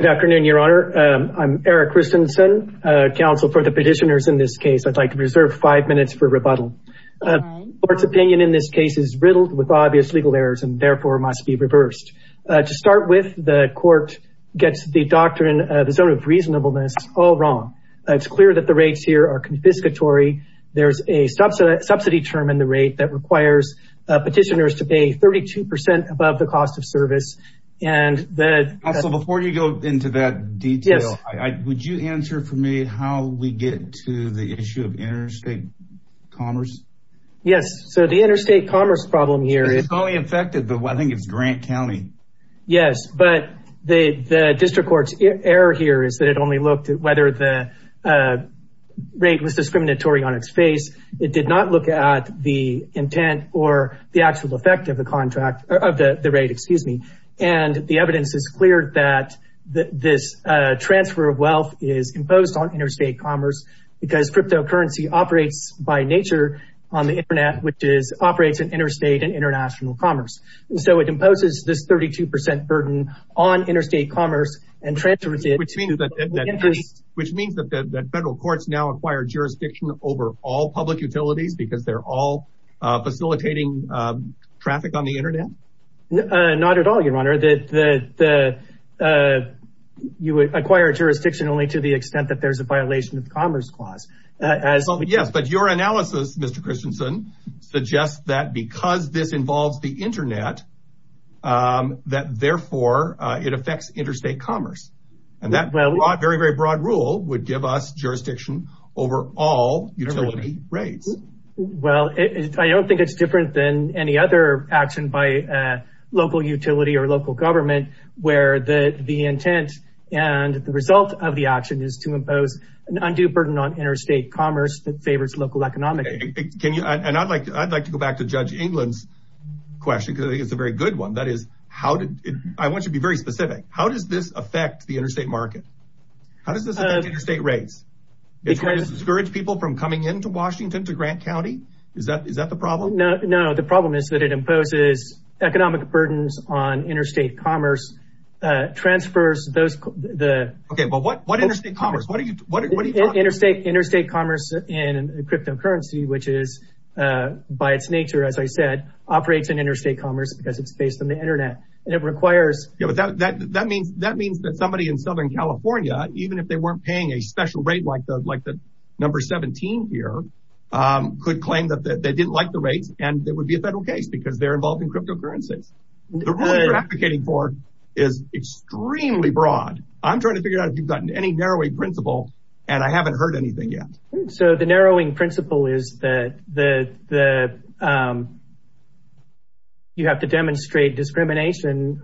Good afternoon, Your Honor. I'm Eric Christensen, counsel for the petitioners in this case. I'd like to reserve five minutes for rebuttal. The court's opinion in this case is riddled with obvious legal errors and therefore must be reversed. To start with, the court gets the doctrine of the zone of reasonableness all wrong. It's clear that the rates here are confiscatory. There's a subsidy term in the rate that requires petitioners to pay 32% above the cost of the rate. Also, before you go into that detail, would you answer for me how we get to the issue of interstate commerce? Yes, so the interstate commerce problem here... It's only affected, but I think it's Grant County. Yes, but the District Court's error here is that it only looked at whether the rate was discriminatory on its face. It did not look at the intent or the actual effect of the rate. And the evidence is clear that this transfer of wealth is imposed on interstate commerce because cryptocurrency operates by nature on the internet, which operates in interstate and international commerce. So it imposes this 32% burden on interstate commerce and transfers it to the interstate. Which means that federal courts now acquire jurisdiction over all facilitating traffic on the internet? Not at all, Your Honor. You acquire jurisdiction only to the extent that there's a violation of the Commerce Clause. Yes, but your analysis, Mr. Christensen, suggests that because this involves the internet, that therefore it affects interstate commerce. And that very, very broad rule would give us jurisdiction over all utility rates. Well, I don't think it's different than any other action by local utility or local government where the intent and the result of the action is to impose an undue burden on interstate commerce that favors local economics. And I'd like to go back to Judge England's question, because I think it's a very good one. That is, I want you to be very specific. How does this affect the interstate market? How does this affect interstate rates? It's going to keep people from coming into Washington, to Grant County? Is that the problem? No, the problem is that it imposes economic burdens on interstate commerce, transfers those... Okay, but what interstate commerce? What are you talking about? Interstate commerce and cryptocurrency, which is by its nature, as I said, operates in interstate commerce because it's based on the internet. And it requires... Yeah, but that means that somebody in Southern California, even if they weren't paying a special rate like the number 17 here, could claim that they didn't like the rates, and it would be a federal case because they're involved in cryptocurrencies. The rule you're advocating for is extremely broad. I'm trying to figure out if you've gotten any narrowing principle, and I haven't heard anything yet. So the narrowing principle is that you have to demonstrate discrimination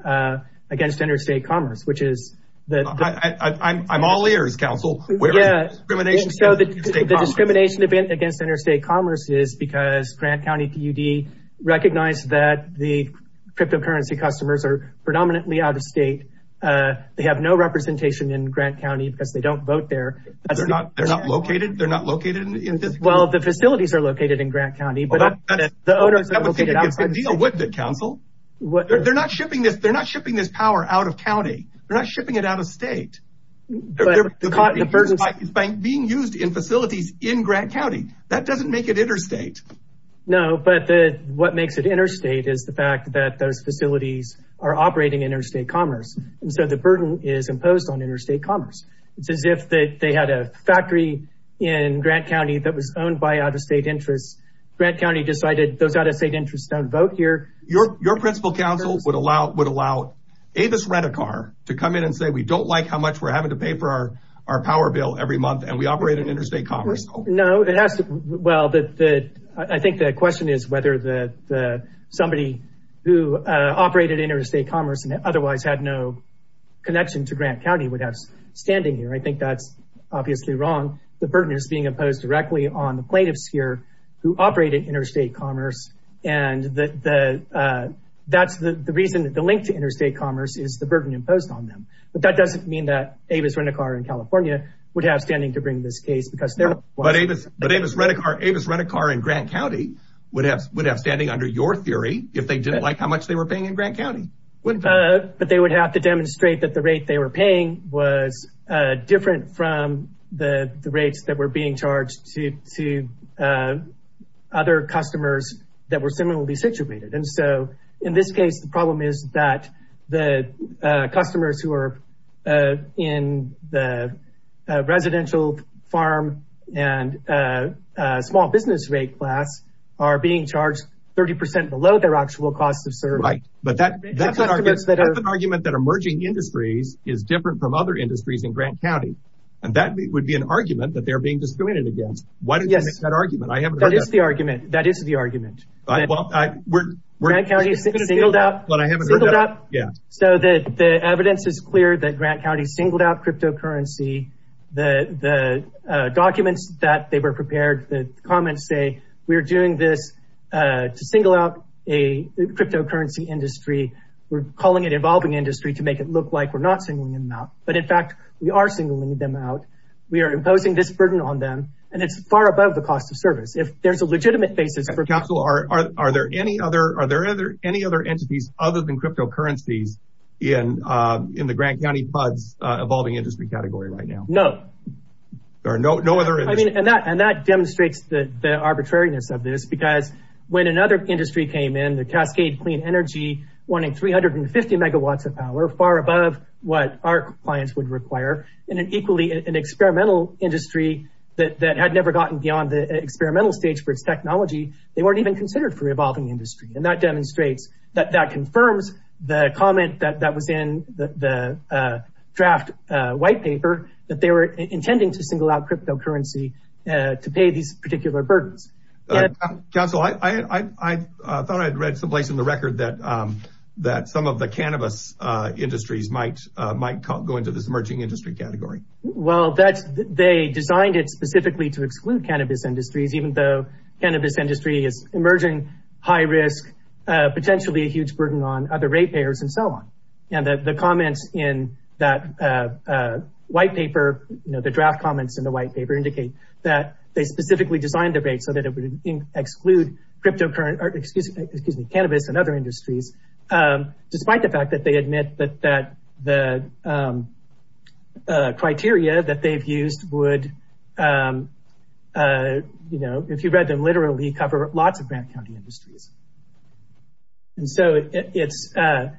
against interstate commerce, which is... I'm all ears, counsel. Yeah, so the discrimination against interstate commerce is because Grant County PUD recognized that the cryptocurrency customers are predominantly out-of-state. They have no representation in Grant County because they don't vote there. They're not located? They're not located? Well, the They're not shipping this power out of county. They're not shipping it out of state. But the burden... It's being used in facilities in Grant County. That doesn't make it interstate. No, but what makes it interstate is the fact that those facilities are operating interstate commerce. And so the burden is imposed on interstate commerce. It's as if they had a factory in Grant County that was owned by out-of-state interests. Grant County decided those out-of-state interests don't vote here. Your principal counsel would allow Avis Redicar to come in and say, we don't like how much we're having to pay for our power bill every month, and we operate in interstate commerce. No, it has to... Well, I think the question is whether somebody who operated interstate commerce and otherwise had no connection to Grant County would have standing here. I think that's obviously wrong. The burden is being imposed directly on the plaintiffs here who operate in interstate commerce. And that's the reason that the link to interstate commerce is the burden imposed on them. But that doesn't mean that Avis Redicar in California would have standing to bring this case because they're... But Avis Redicar in Grant County would have standing under your theory if they didn't like how much they were paying in Grant County. But they would have to demonstrate that the rate they were paying was different from the rates that were being charged to other customers that were similarly situated. And so in this case, the problem is that the customers who are in the residential farm and small business rate class are being charged 30% below their actual cost of service. Right. But that's an argument that emerging industries is different from other industries in Grant County. And that would be an argument that they're being discriminated against. Why did you make that argument? I haven't heard that. That is the argument. That is the argument. Grant County singled out... But I haven't heard that. Singled out? Yeah. So the evidence is clear that Grant County singled out cryptocurrency. The documents that they were prepared, the comments say, we're doing this to single out a cryptocurrency industry. We're calling it evolving industry to make it look like we're not singling them out. But in fact, we are singling them out. We are imposing this burden on them. And it's far above the cost of service. If there's a legitimate basis for... Councilor, are there any other entities other than cryptocurrencies in the Grant County FUD's evolving industry category right now? No. There are no other... And that demonstrates the arbitrariness of this. Because when another industry came in, the Cascade Clean Energy, wanting 350 megawatts of power, far above what our clients would require, in an equally experimental industry that had never gotten beyond the experimental stage for its technology, they weren't even considered for evolving industry. And that demonstrates that that confirms the comment that was in the draft white paper, that they were intending to single out cryptocurrency to pay these particular burdens. Councilor, I thought I'd read someplace in the record that some of the cannabis industries might go into this emerging industry category. Well, they designed it specifically to exclude cannabis industries, even though cannabis industry is emerging high risk, potentially a huge burden on other rate payers and so on. And the comments in that white paper, the draft comments in the white paper indicate that they and other industries, despite the fact that they admit that the criteria that they've used would, if you read them literally, cover lots of Grant County industries. And so the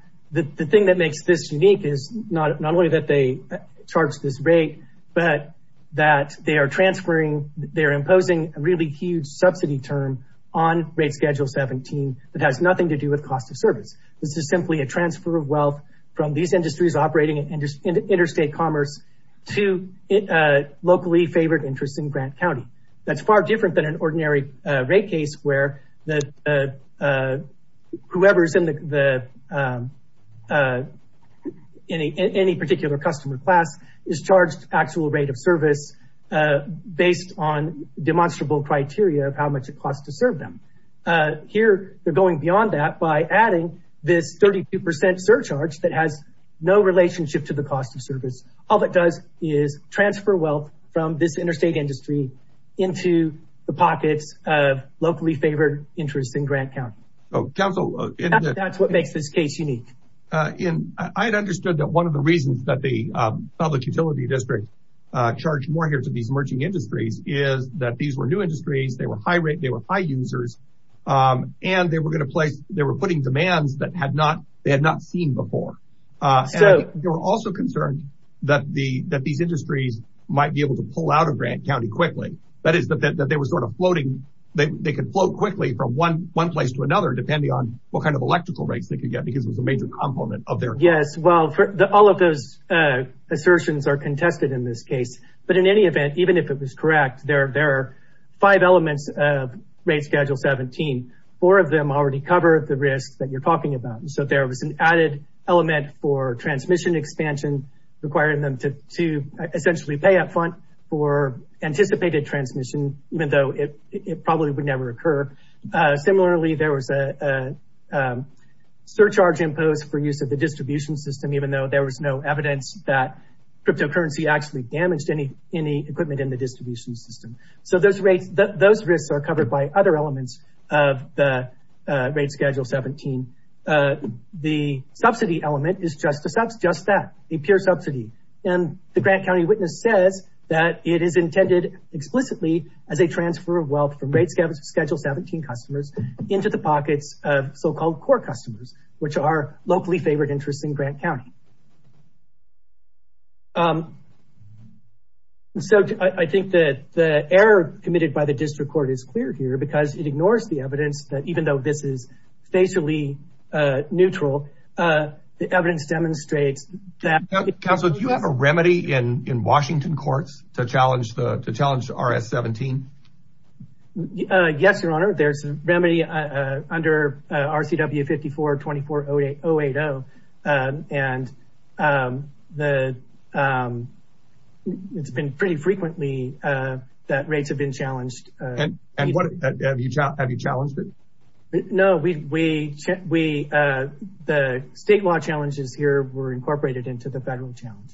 thing that makes this unique is not only that they charge this rate, but that they are transferring, they're imposing a really huge subsidy term on rate schedule 17 that has nothing to do with cost of service. This is simply a transfer of wealth from these industries operating in interstate commerce to locally favored interests in Grant County. That's far different than an ordinary rate case where whoever's in any particular customer class is charged actual rate of service based on demonstrable criteria of how much it costs to serve them. Here, they're going beyond that by adding this 32% surcharge that has no relationship to the cost of service. All it does is transfer wealth from this interstate industry into the pockets of locally favored interests in Grant County. That's what makes this case unique. And I had understood that one of the reasons that the public utility district charged more here to these emerging industries is that these were new industries, they were high rate, they were high users, and they were going to place, they were putting demands that they had not seen before. They were also concerned that these industries might be able to pull out of Grant County quickly. That is, that they were sort of floating, they could float quickly from one place to another depending on what kind of electrical rates they could get because it was a major component of their... Yes, well, all of those assertions are contested in this case. But in any event, even if it was correct, there are five elements of rate schedule 17. Four of them already cover the risks that you're talking about. So there was an added element for transmission expansion, requiring them to essentially pay up front for anticipated transmission, even though it probably would never occur. Similarly, there was a surcharge imposed for use of the distribution system, even though there was no evidence that cryptocurrency actually damaged any equipment in the distribution system. So those risks are covered by other elements of the rate schedule 17. The subsidy element is just that, a pure subsidy. And the Grant County witness says that it is intended explicitly as a into the pockets of so-called core customers, which are locally favored interests in Grant County. So I think that the error committed by the district court is clear here because it ignores the evidence that even though this is facially neutral, the evidence demonstrates that... Counsel, do you have a remedy in Washington courts to challenge RS-17? Yes, Your Honor. There's a remedy under RCW-54-2408-080. And it's been pretty frequently that rates have been challenged. And have you challenged it? No, the state law challenges here were incorporated into the federal challenge.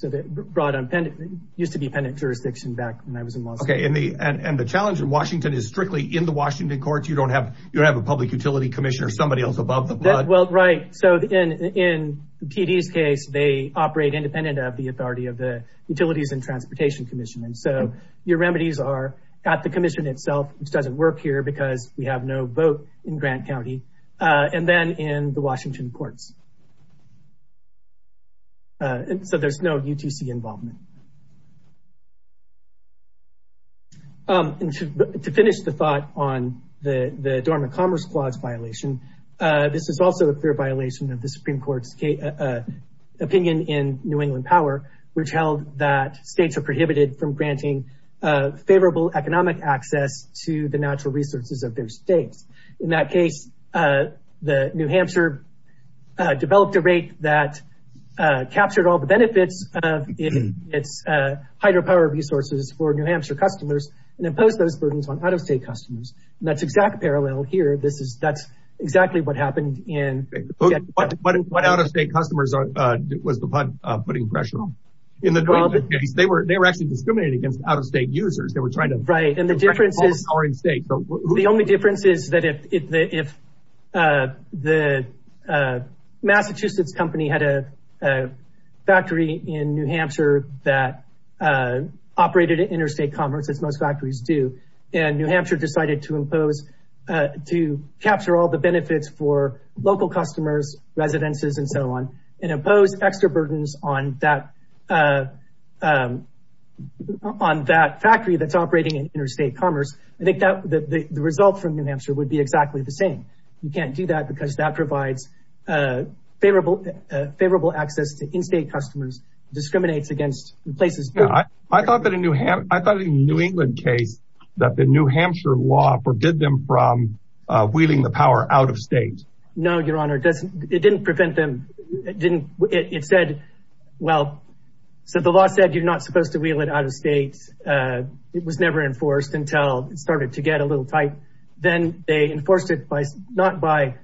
So it used to be pendant jurisdiction back when I was in law school. Okay. And the challenge in Washington is strictly in the Washington courts. You don't have a public utility commissioner, somebody else above the blood. Well, right. So in TD's case, they operate independent of the authority of the Utilities and Transportation Commission. And so your remedies are at the commission itself, which doesn't work here because we have no vote in Grant County. And then in the Washington court, they operate independently of courts. So there's no UTC involvement. To finish the thought on the dormant commerce clause violation, this is also a clear violation of the Supreme Court's opinion in New England Power, which held that states are prohibited from granting favorable economic access to the natural resources of their states. In that case, New Hampshire developed a rate that captured all the benefits of its hydropower resources for New Hampshire customers and imposed those burdens on out-of-state customers. And that's exact parallel here. That's exactly what happened. What out-of-state customers was the putting pressure on? In the case, they were actually discriminating against out-of-state users. They were trying to... Right. And the difference is... If the Massachusetts company had a factory in New Hampshire that operated interstate commerce, as most factories do, and New Hampshire decided to capture all the benefits for local customers, residences, and so on, and imposed extra burdens on that factory that's operating in interstate commerce, I think that the result from New Hampshire would be exactly the same. You can't do that because that provides favorable access to in-state customers, discriminates against places... I thought in the New England case that the New Hampshire law forbid them from wheeling the power out-of-state. No, Your Honor. It didn't prevent them. It said, well, so the law said you're supposed to wheel it out-of-state. It was never enforced until it started to get a little tight. Then they enforced it not by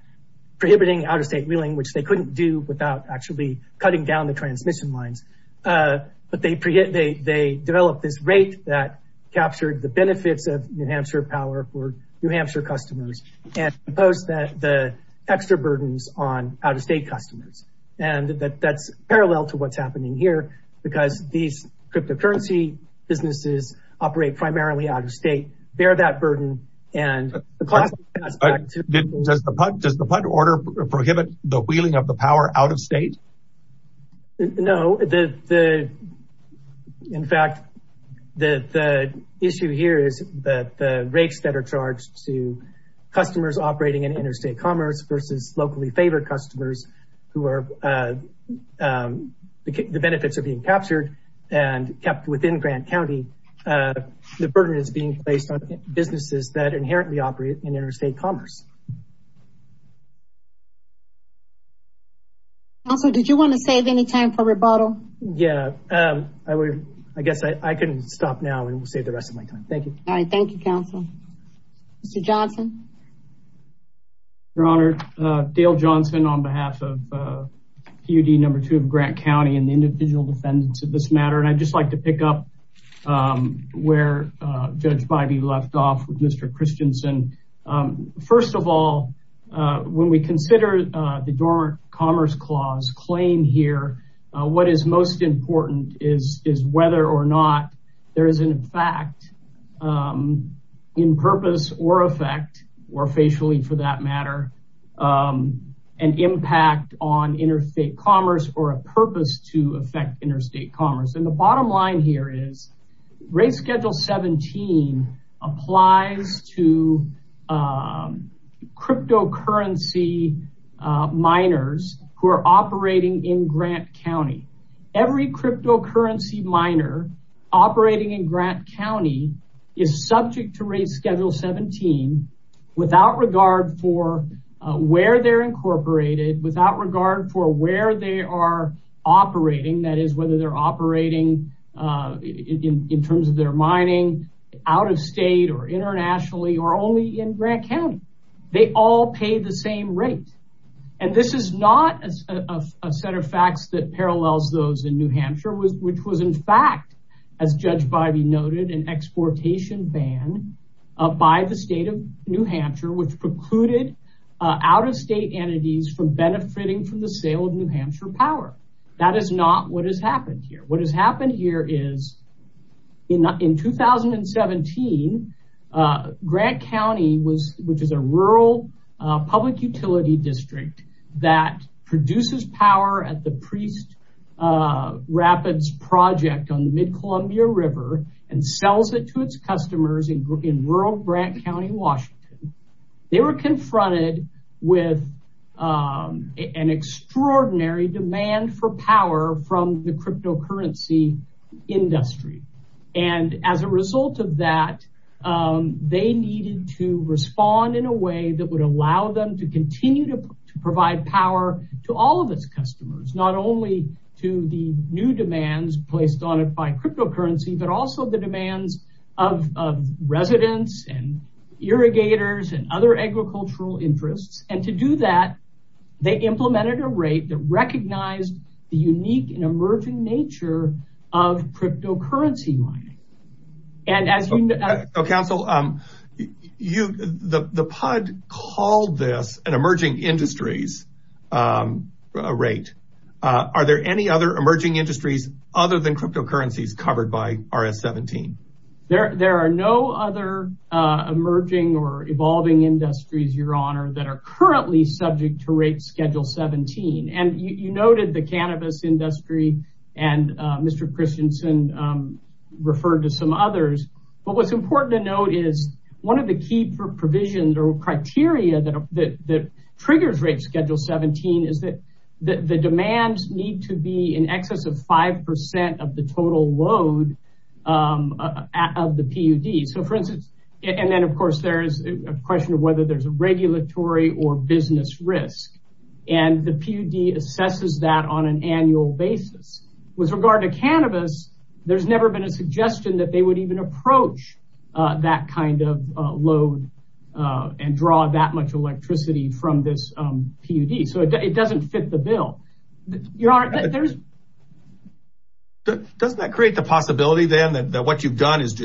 prohibiting out-of-state wheeling, which they couldn't do without actually cutting down the transmission lines, but they developed this rate that captured the benefits of New Hampshire power for New Hampshire customers and imposed the extra burdens on out-of-state customers. That's parallel to what's happening here, because these cryptocurrency businesses operate primarily out-of-state, bear that burden. Does the PUD order prohibit the wheeling of the power out-of-state? No. In fact, the issue here is that the rates that are charged to customers operating in interstate commerce versus locally favored customers, the benefits are being captured and kept within Grant County. The burden is being placed on businesses that inherently operate in interstate commerce. Counselor, did you want to save any time for rebuttal? Yeah, I guess I can stop now and save the rest of my time. Thank you. All right. Thank you, Counselor. Mr. Johnson? Your Honor, Dale Johnson on behalf of PUD number two of Grant County and the individual defendants of this matter. I'd just like to pick up where Judge Bybee left off with Mr. Christensen. First of all, when we consider the Dormant Commerce Clause claim here, what is most important is whether or not there is, in fact, in purpose or effect, or facially for that matter, an impact on interstate commerce or a purpose to affect interstate commerce. The bottom line here is, Rate Schedule 17 applies to cryptocurrency miners who are every cryptocurrency miner operating in Grant County is subject to Rate Schedule 17 without regard for where they're incorporated, without regard for where they are operating, that is, whether they're operating in terms of their mining out of state or internationally, or only in Grant County. They all pay the same rate. This is not a set of facts that parallels those in New Hampshire, which was, in fact, as Judge Bybee noted, an exportation ban by the state of New Hampshire, which precluded out-of-state entities from benefiting from the sale of New Hampshire power. That is not what has happened here. What has happened here is, in 2017, Grant County, which is a rural public utility district that produces power at the Priest Rapids project on the Mid-Columbia River and sells it to its customers in rural Grant County, Washington. They were confronted with an extraordinary demand for power from the state. They needed to respond in a way that would allow them to continue to provide power to all of its customers, not only to the new demands placed on it by cryptocurrency, but also the demands of residents, irrigators, and other agricultural interests. To do that, they implemented a rate that recognized the unique and emerging nature of cryptocurrency mining. Counsel, the PUD called this an emerging industries rate. Are there any other emerging industries other than cryptocurrencies covered by RS-17? There are no other emerging or evolving industries, Your Honor, that are currently subject to rate schedule 17. You noted the cannabis industry, and Mr. Christensen referred to some others. What is important to note is one of the key provisions or criteria that triggers rate schedule 17 is that the demands need to be in excess of 5% of the total load of the PUD. Then, of course, there is a question of whether there is a regulatory or business risk. The PUD assesses that on an annual basis. With regard to cannabis, there has never been a suggestion that they would even approach that kind of load and draw that much electricity from this PUD. It does not fit the bill. Does that not create the possibility, then, that what you have is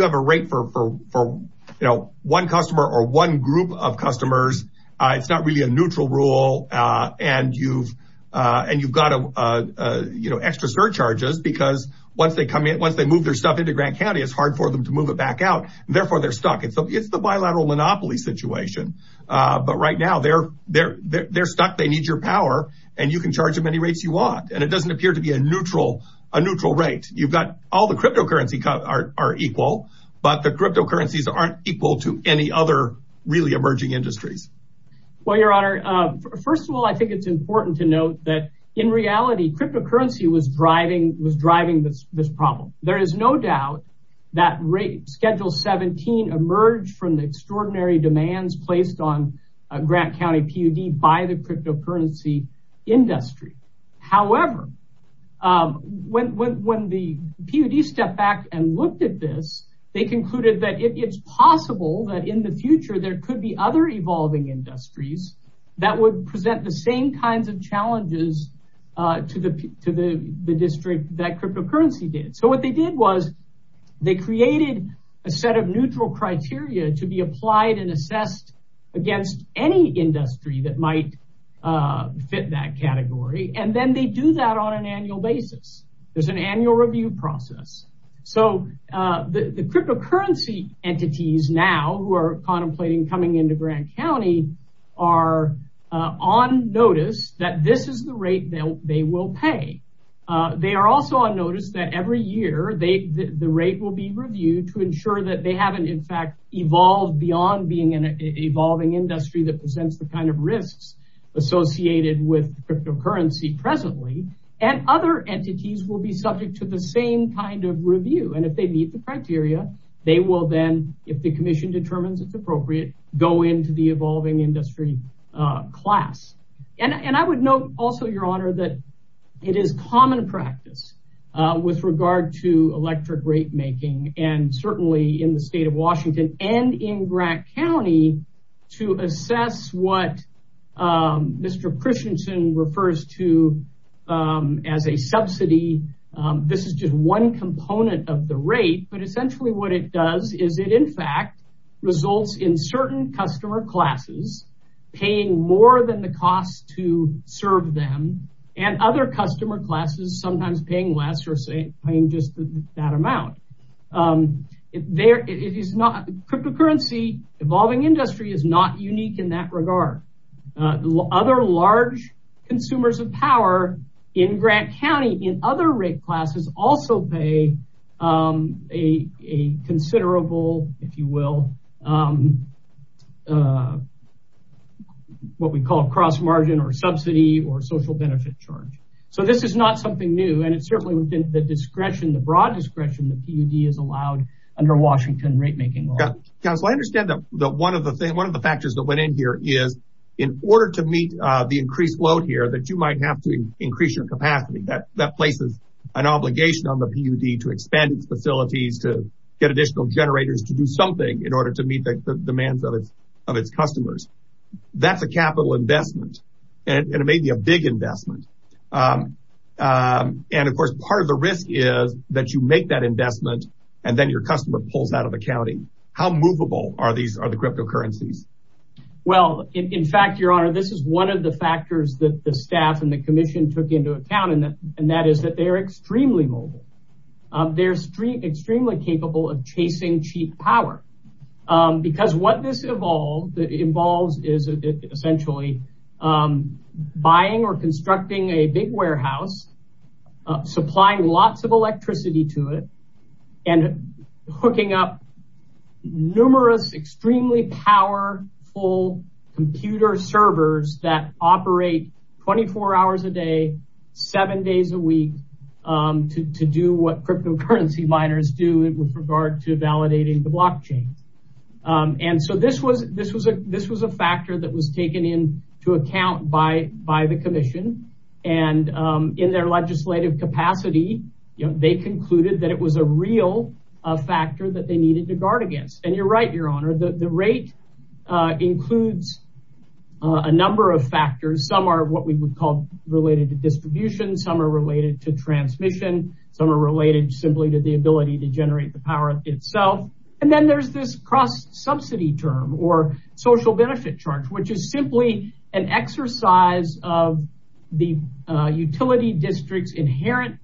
a rate for one customer or one group of customers? It is not really a neutral rule. You have extra surcharges because once they move their stuff into Grant County, it is hard for them to move it back out. Therefore, they are stuck. It is the bilateral monopoly situation. Right now, they are stuck. They need your power. You can charge them any rates you want. It does not appear to be a neutral rate. All the cryptocurrencies are equal, but the cryptocurrencies are not equal to any other really emerging industries. Your Honor, first of all, I think it is important to note that in reality, cryptocurrency was driving this problem. There is no doubt that schedule 17 emerged from the extraordinary demands placed on Grant County PUD by the cryptocurrency industry. However, when the PUD stepped back and looked at this, they concluded that it is possible that in the future there could be other evolving industries that would present the same kinds of challenges to the district that cryptocurrency did. What they did was they created a set of neutral criteria to be applied and assessed against any industry that might fit that category. They do that on an annual basis. There is an annual review process. The cryptocurrency entities now who are contemplating coming into Grant County are on notice that this is the rate they will pay. They are also on notice that every year, the rate will be reviewed to ensure that they have not, in fact, evolved beyond being an evolving industry that presents the kind of risks associated with cryptocurrency presently. Other entities will be subject to the same kind of review. If they meet the criteria, they will then, if the commission determines it's appropriate, go into the evolving industry class. I would note also, Your Honor, that it is common practice with regard to Grant County to assess what Mr. Christensen refers to as a subsidy. This is just one component of the rate, but essentially what it does is it, in fact, results in certain customer classes paying more than the cost to serve them, and other customer classes sometimes paying less or paying just that amount. Cryptocurrency evolving industry is not unique in that regard. Other large consumers of power in Grant County in other rate classes also pay a considerable, if you will, what we call cross-margin or subsidy or social benefit charge. This is not something new, and it's certainly within the broad discretion that PUD is allowed under Washington rate-making laws. Counsel, I understand that one of the factors that went in here is, in order to meet the increased load here, that you might have to increase your capacity. That places an obligation on the PUD to expand its facilities, to get additional generators, to do something in order to meet the demands of its customers. That's a capital investment, and it may be a big investment. Of course, part of the risk is that you make that investment, and then your customer pulls out of accounting. How movable are the cryptocurrencies? In fact, your honor, this is one of the factors that the staff and the commission took into account, and that is that they're extremely mobile. They're extremely capable of chasing cheap power, because what this involves is, essentially, buying or constructing a big warehouse, supplying lots of electricity to it, and hooking up numerous, extremely powerful computer servers that operate 24 hours a day, seven days a week, to do what cryptocurrency miners do with regard to validating the blockchain. This was a factor that was taken into account by the commission. In their legislative capacity, they concluded that it was a real factor that they needed to guard against. You're right, your honor. The rate includes a number of factors. Some are what we would call related to distribution. Some are related to transmission. Some are related simply to the cross-subsidy term, or social benefit charge, which is simply an exercise of the utility district's inherent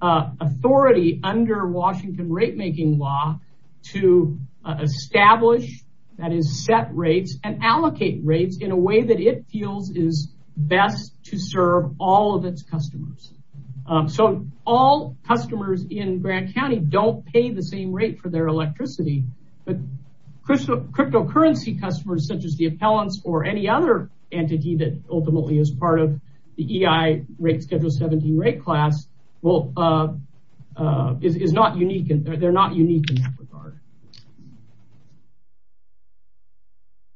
authority under Washington rate-making law to establish, that is set rates, and allocate rates in a way that it feels is best to serve all of its customers. So, all customers in Grant County don't pay the same rate for their electricity, but cryptocurrency customers, such as the appellants or any other entity that ultimately is part of the EI rate schedule 17 rate class, they're not unique in that regard.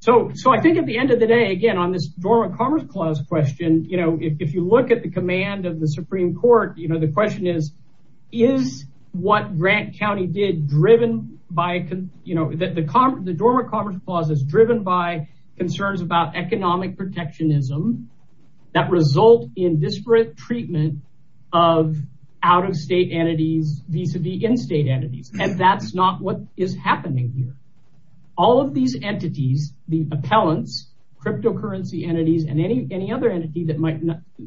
So, I think at the end of the day, again, on this Dormant Commerce Clause question, if you look at the command of the Supreme Court, the question is, is what Grant County did driven by, the Dormant Commerce Clause is driven by concerns about economic protectionism that result in disparate treatment of out-of-state entities vis-a-vis in-state entities, and that's not what is happening here. All of these entities, the appellants, cryptocurrency entities, and any other entity that might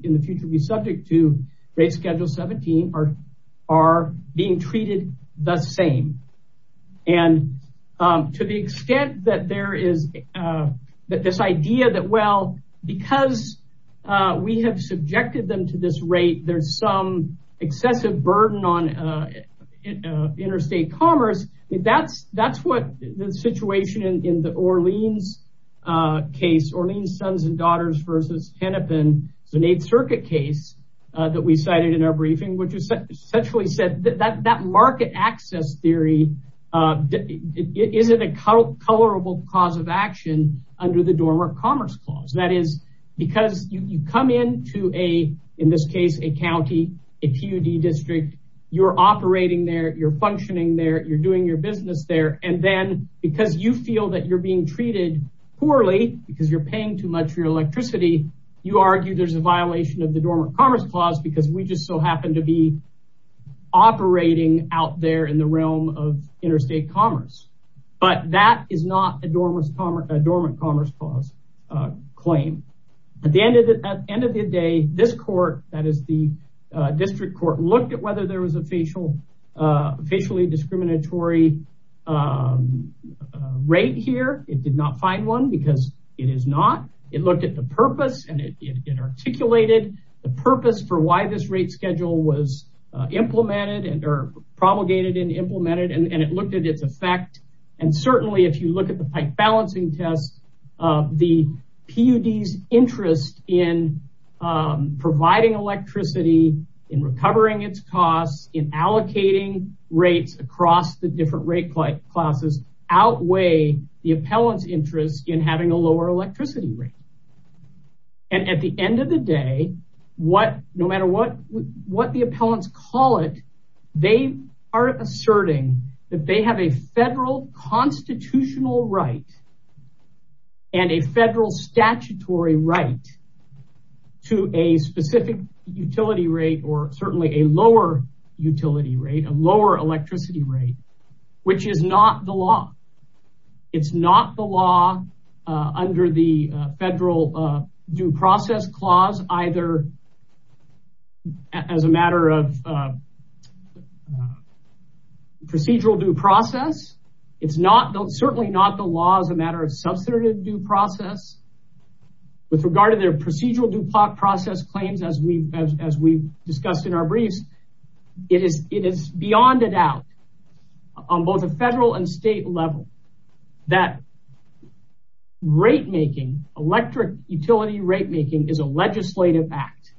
in the future be subject to rate schedule 17 are being treated the same. And to the extent that there is this idea that, well, because we have subjected them to this rate, there's some excessive burden on interstate commerce. That's what the situation in the Orleans case, Orleans Sons and Daughters versus Hennepin, it's an Eighth Circuit case that we cited in our briefing, which essentially said that market access theory isn't a colorable cause of action under the Dormant Commerce Clause. Because you come into a, in this case, a county, a PUD district, you're operating there, you're functioning there, you're doing your business there. And then because you feel that you're being treated poorly because you're paying too much for your electricity, you argue there's a violation of the Dormant Commerce Clause because we just so happen to be operating out there in the At the end of the day, this court, that is the district court, looked at whether there was a facially discriminatory rate here. It did not find one because it is not. It looked at the purpose and it articulated the purpose for why this rate schedule was implemented and are promulgated and implemented. And it looked at its effect. And certainly if you look at the pipe balancing test, the PUD's interest in providing electricity, in recovering its costs, in allocating rates across the different rate classes outweigh the appellant's interest in having a lower electricity rate. And at the end of the day, no matter what the appellants call it, they are asserting that they have a federal constitutional right and a federal statutory right to a specific utility rate or certainly a lower utility rate, a lower electricity rate, which is not the law. It's not the law under the federal due process clause, either as a matter of procedural due process. It's certainly not the law as a matter of substantive due process. With regard to their procedural due process claims, as we discussed in our briefs, it is beyond a doubt on both a federal and state level that electric utility rate making is a legislative act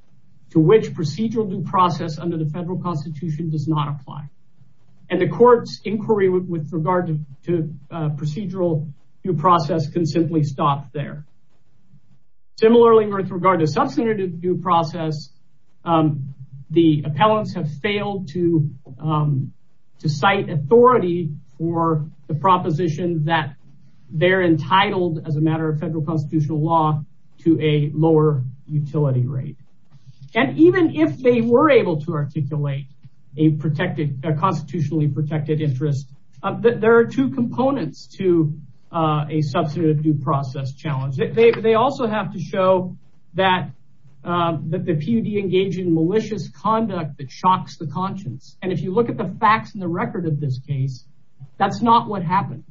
to which procedural due process under the federal constitution does not apply. And the court's inquiry with regard to procedural due process can simply stop there. Similarly, with regard to substantive due process, the appellants have failed to cite authority for the proposition that they're entitled, as a matter of federal constitutional law, to a lower utility rate. And even if they were able to articulate a constitutionally protected interest, there are two components to a substantive due process challenge. They also have to show that the PUD engaged in malicious conduct that shocks the conscience. And if you look at the facts and the record of this case, that's not what happened.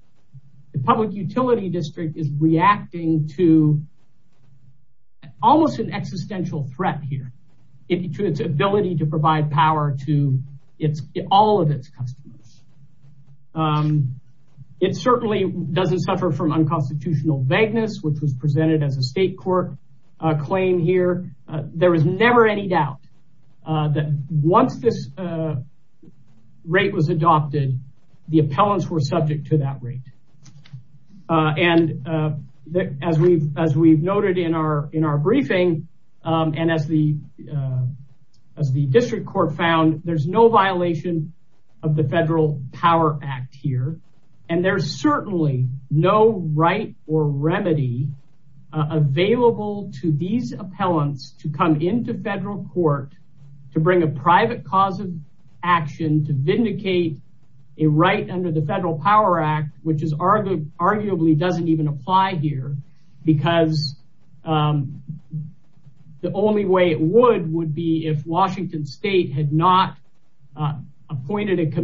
The public utility district is reacting to almost an existential threat here to its ability to provide power to all of its customers. It certainly doesn't suffer from unconstitutional vagueness, which was presented as a state court claim here. There was never any doubt that once this rate was adopted, the appellants were subject to that rate. And as we've noted in our briefing, and as the district court found, there's no no right or remedy available to these appellants to come into federal court to bring a private cause of action to vindicate a right under the Federal Power Act, which arguably doesn't even apply here. Because the only way it would would be if Washington State had not appointed a to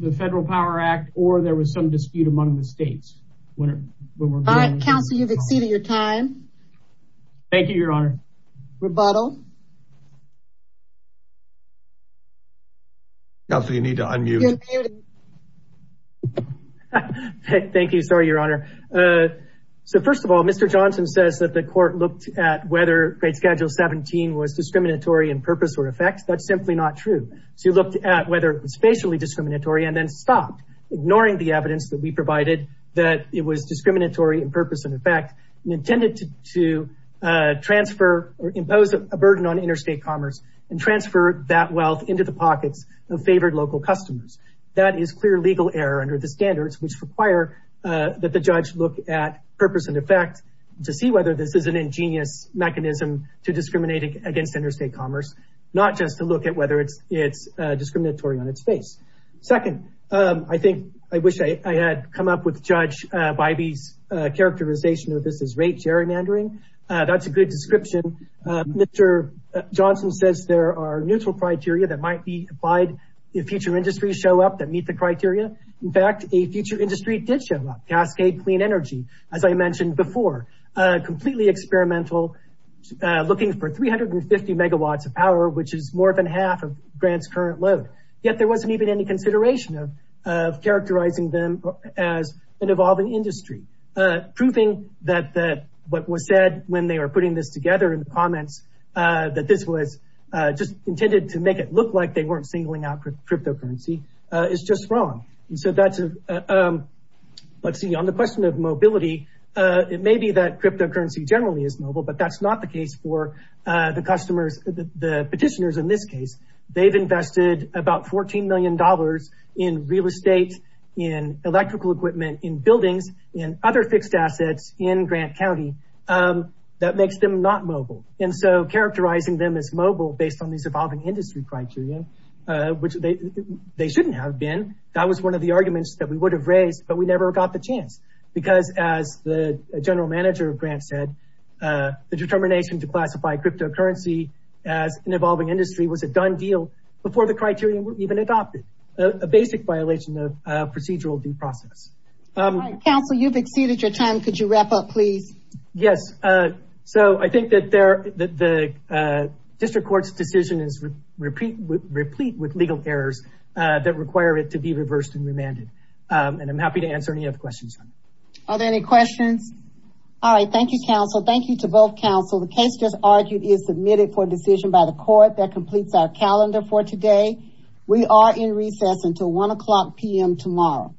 the Federal Power Act, or there was some dispute among the states. All right, counsel, you've exceeded your time. Thank you, Your Honor. Rebuttal. Counsel, you need to unmute. Thank you. Sorry, Your Honor. So first of all, Mr. Johnson says that the court looked at whether grade schedule 17 was discriminatory in purpose or effects. That's whether it was spatially discriminatory and then stopped, ignoring the evidence that we provided that it was discriminatory in purpose and effect, and intended to transfer or impose a burden on interstate commerce and transfer that wealth into the pockets of favored local customers. That is clear legal error under the standards which require that the judge look at purpose and effect to see whether this is an ingenious mechanism to discriminate against interstate commerce, not just to look at whether it's discriminatory on its face. Second, I think I wish I had come up with Judge Bybee's characterization of this as rate gerrymandering. That's a good description. Mr. Johnson says there are neutral criteria that might be applied if future industries show up that meet the criteria. In fact, a future industry did show up, clean energy, as I mentioned before, completely experimental, looking for 350 megawatts of power, which is more than half of Grant's current load. Yet there wasn't even any consideration of characterizing them as an evolving industry. Proving that what was said when they were putting this together in the comments, that this was just intended to make it look like they weren't singling out cryptocurrency, is just wrong. On the question of mobility, it may be that cryptocurrency generally is mobile, but that's not the case for the petitioners in this case. They've invested about $14 million in real estate, in electrical equipment, in buildings, in other fixed assets in Grant County. That makes them not mobile. Characterizing them as mobile based on these evolving industry criteria, which they shouldn't have been. That was one of the arguments that we would have raised, but we never got the chance. Because as the general manager of Grant said, the determination to classify cryptocurrency as an evolving industry was a done deal before the criteria were even adopted. A basic violation of procedural due process. Counsel, you've exceeded your time. Could you wrap up, please? Yes. I think that the district court's decision is replete with legal errors that require it to be reversed and remanded. I'm happy to answer any other questions. Are there any questions? All right. Thank you, counsel. Thank you to both counsel. The case just argued is submitted for decision by the court that completes our calendar for today. We are in recess until 1 o'clock p.m. tomorrow.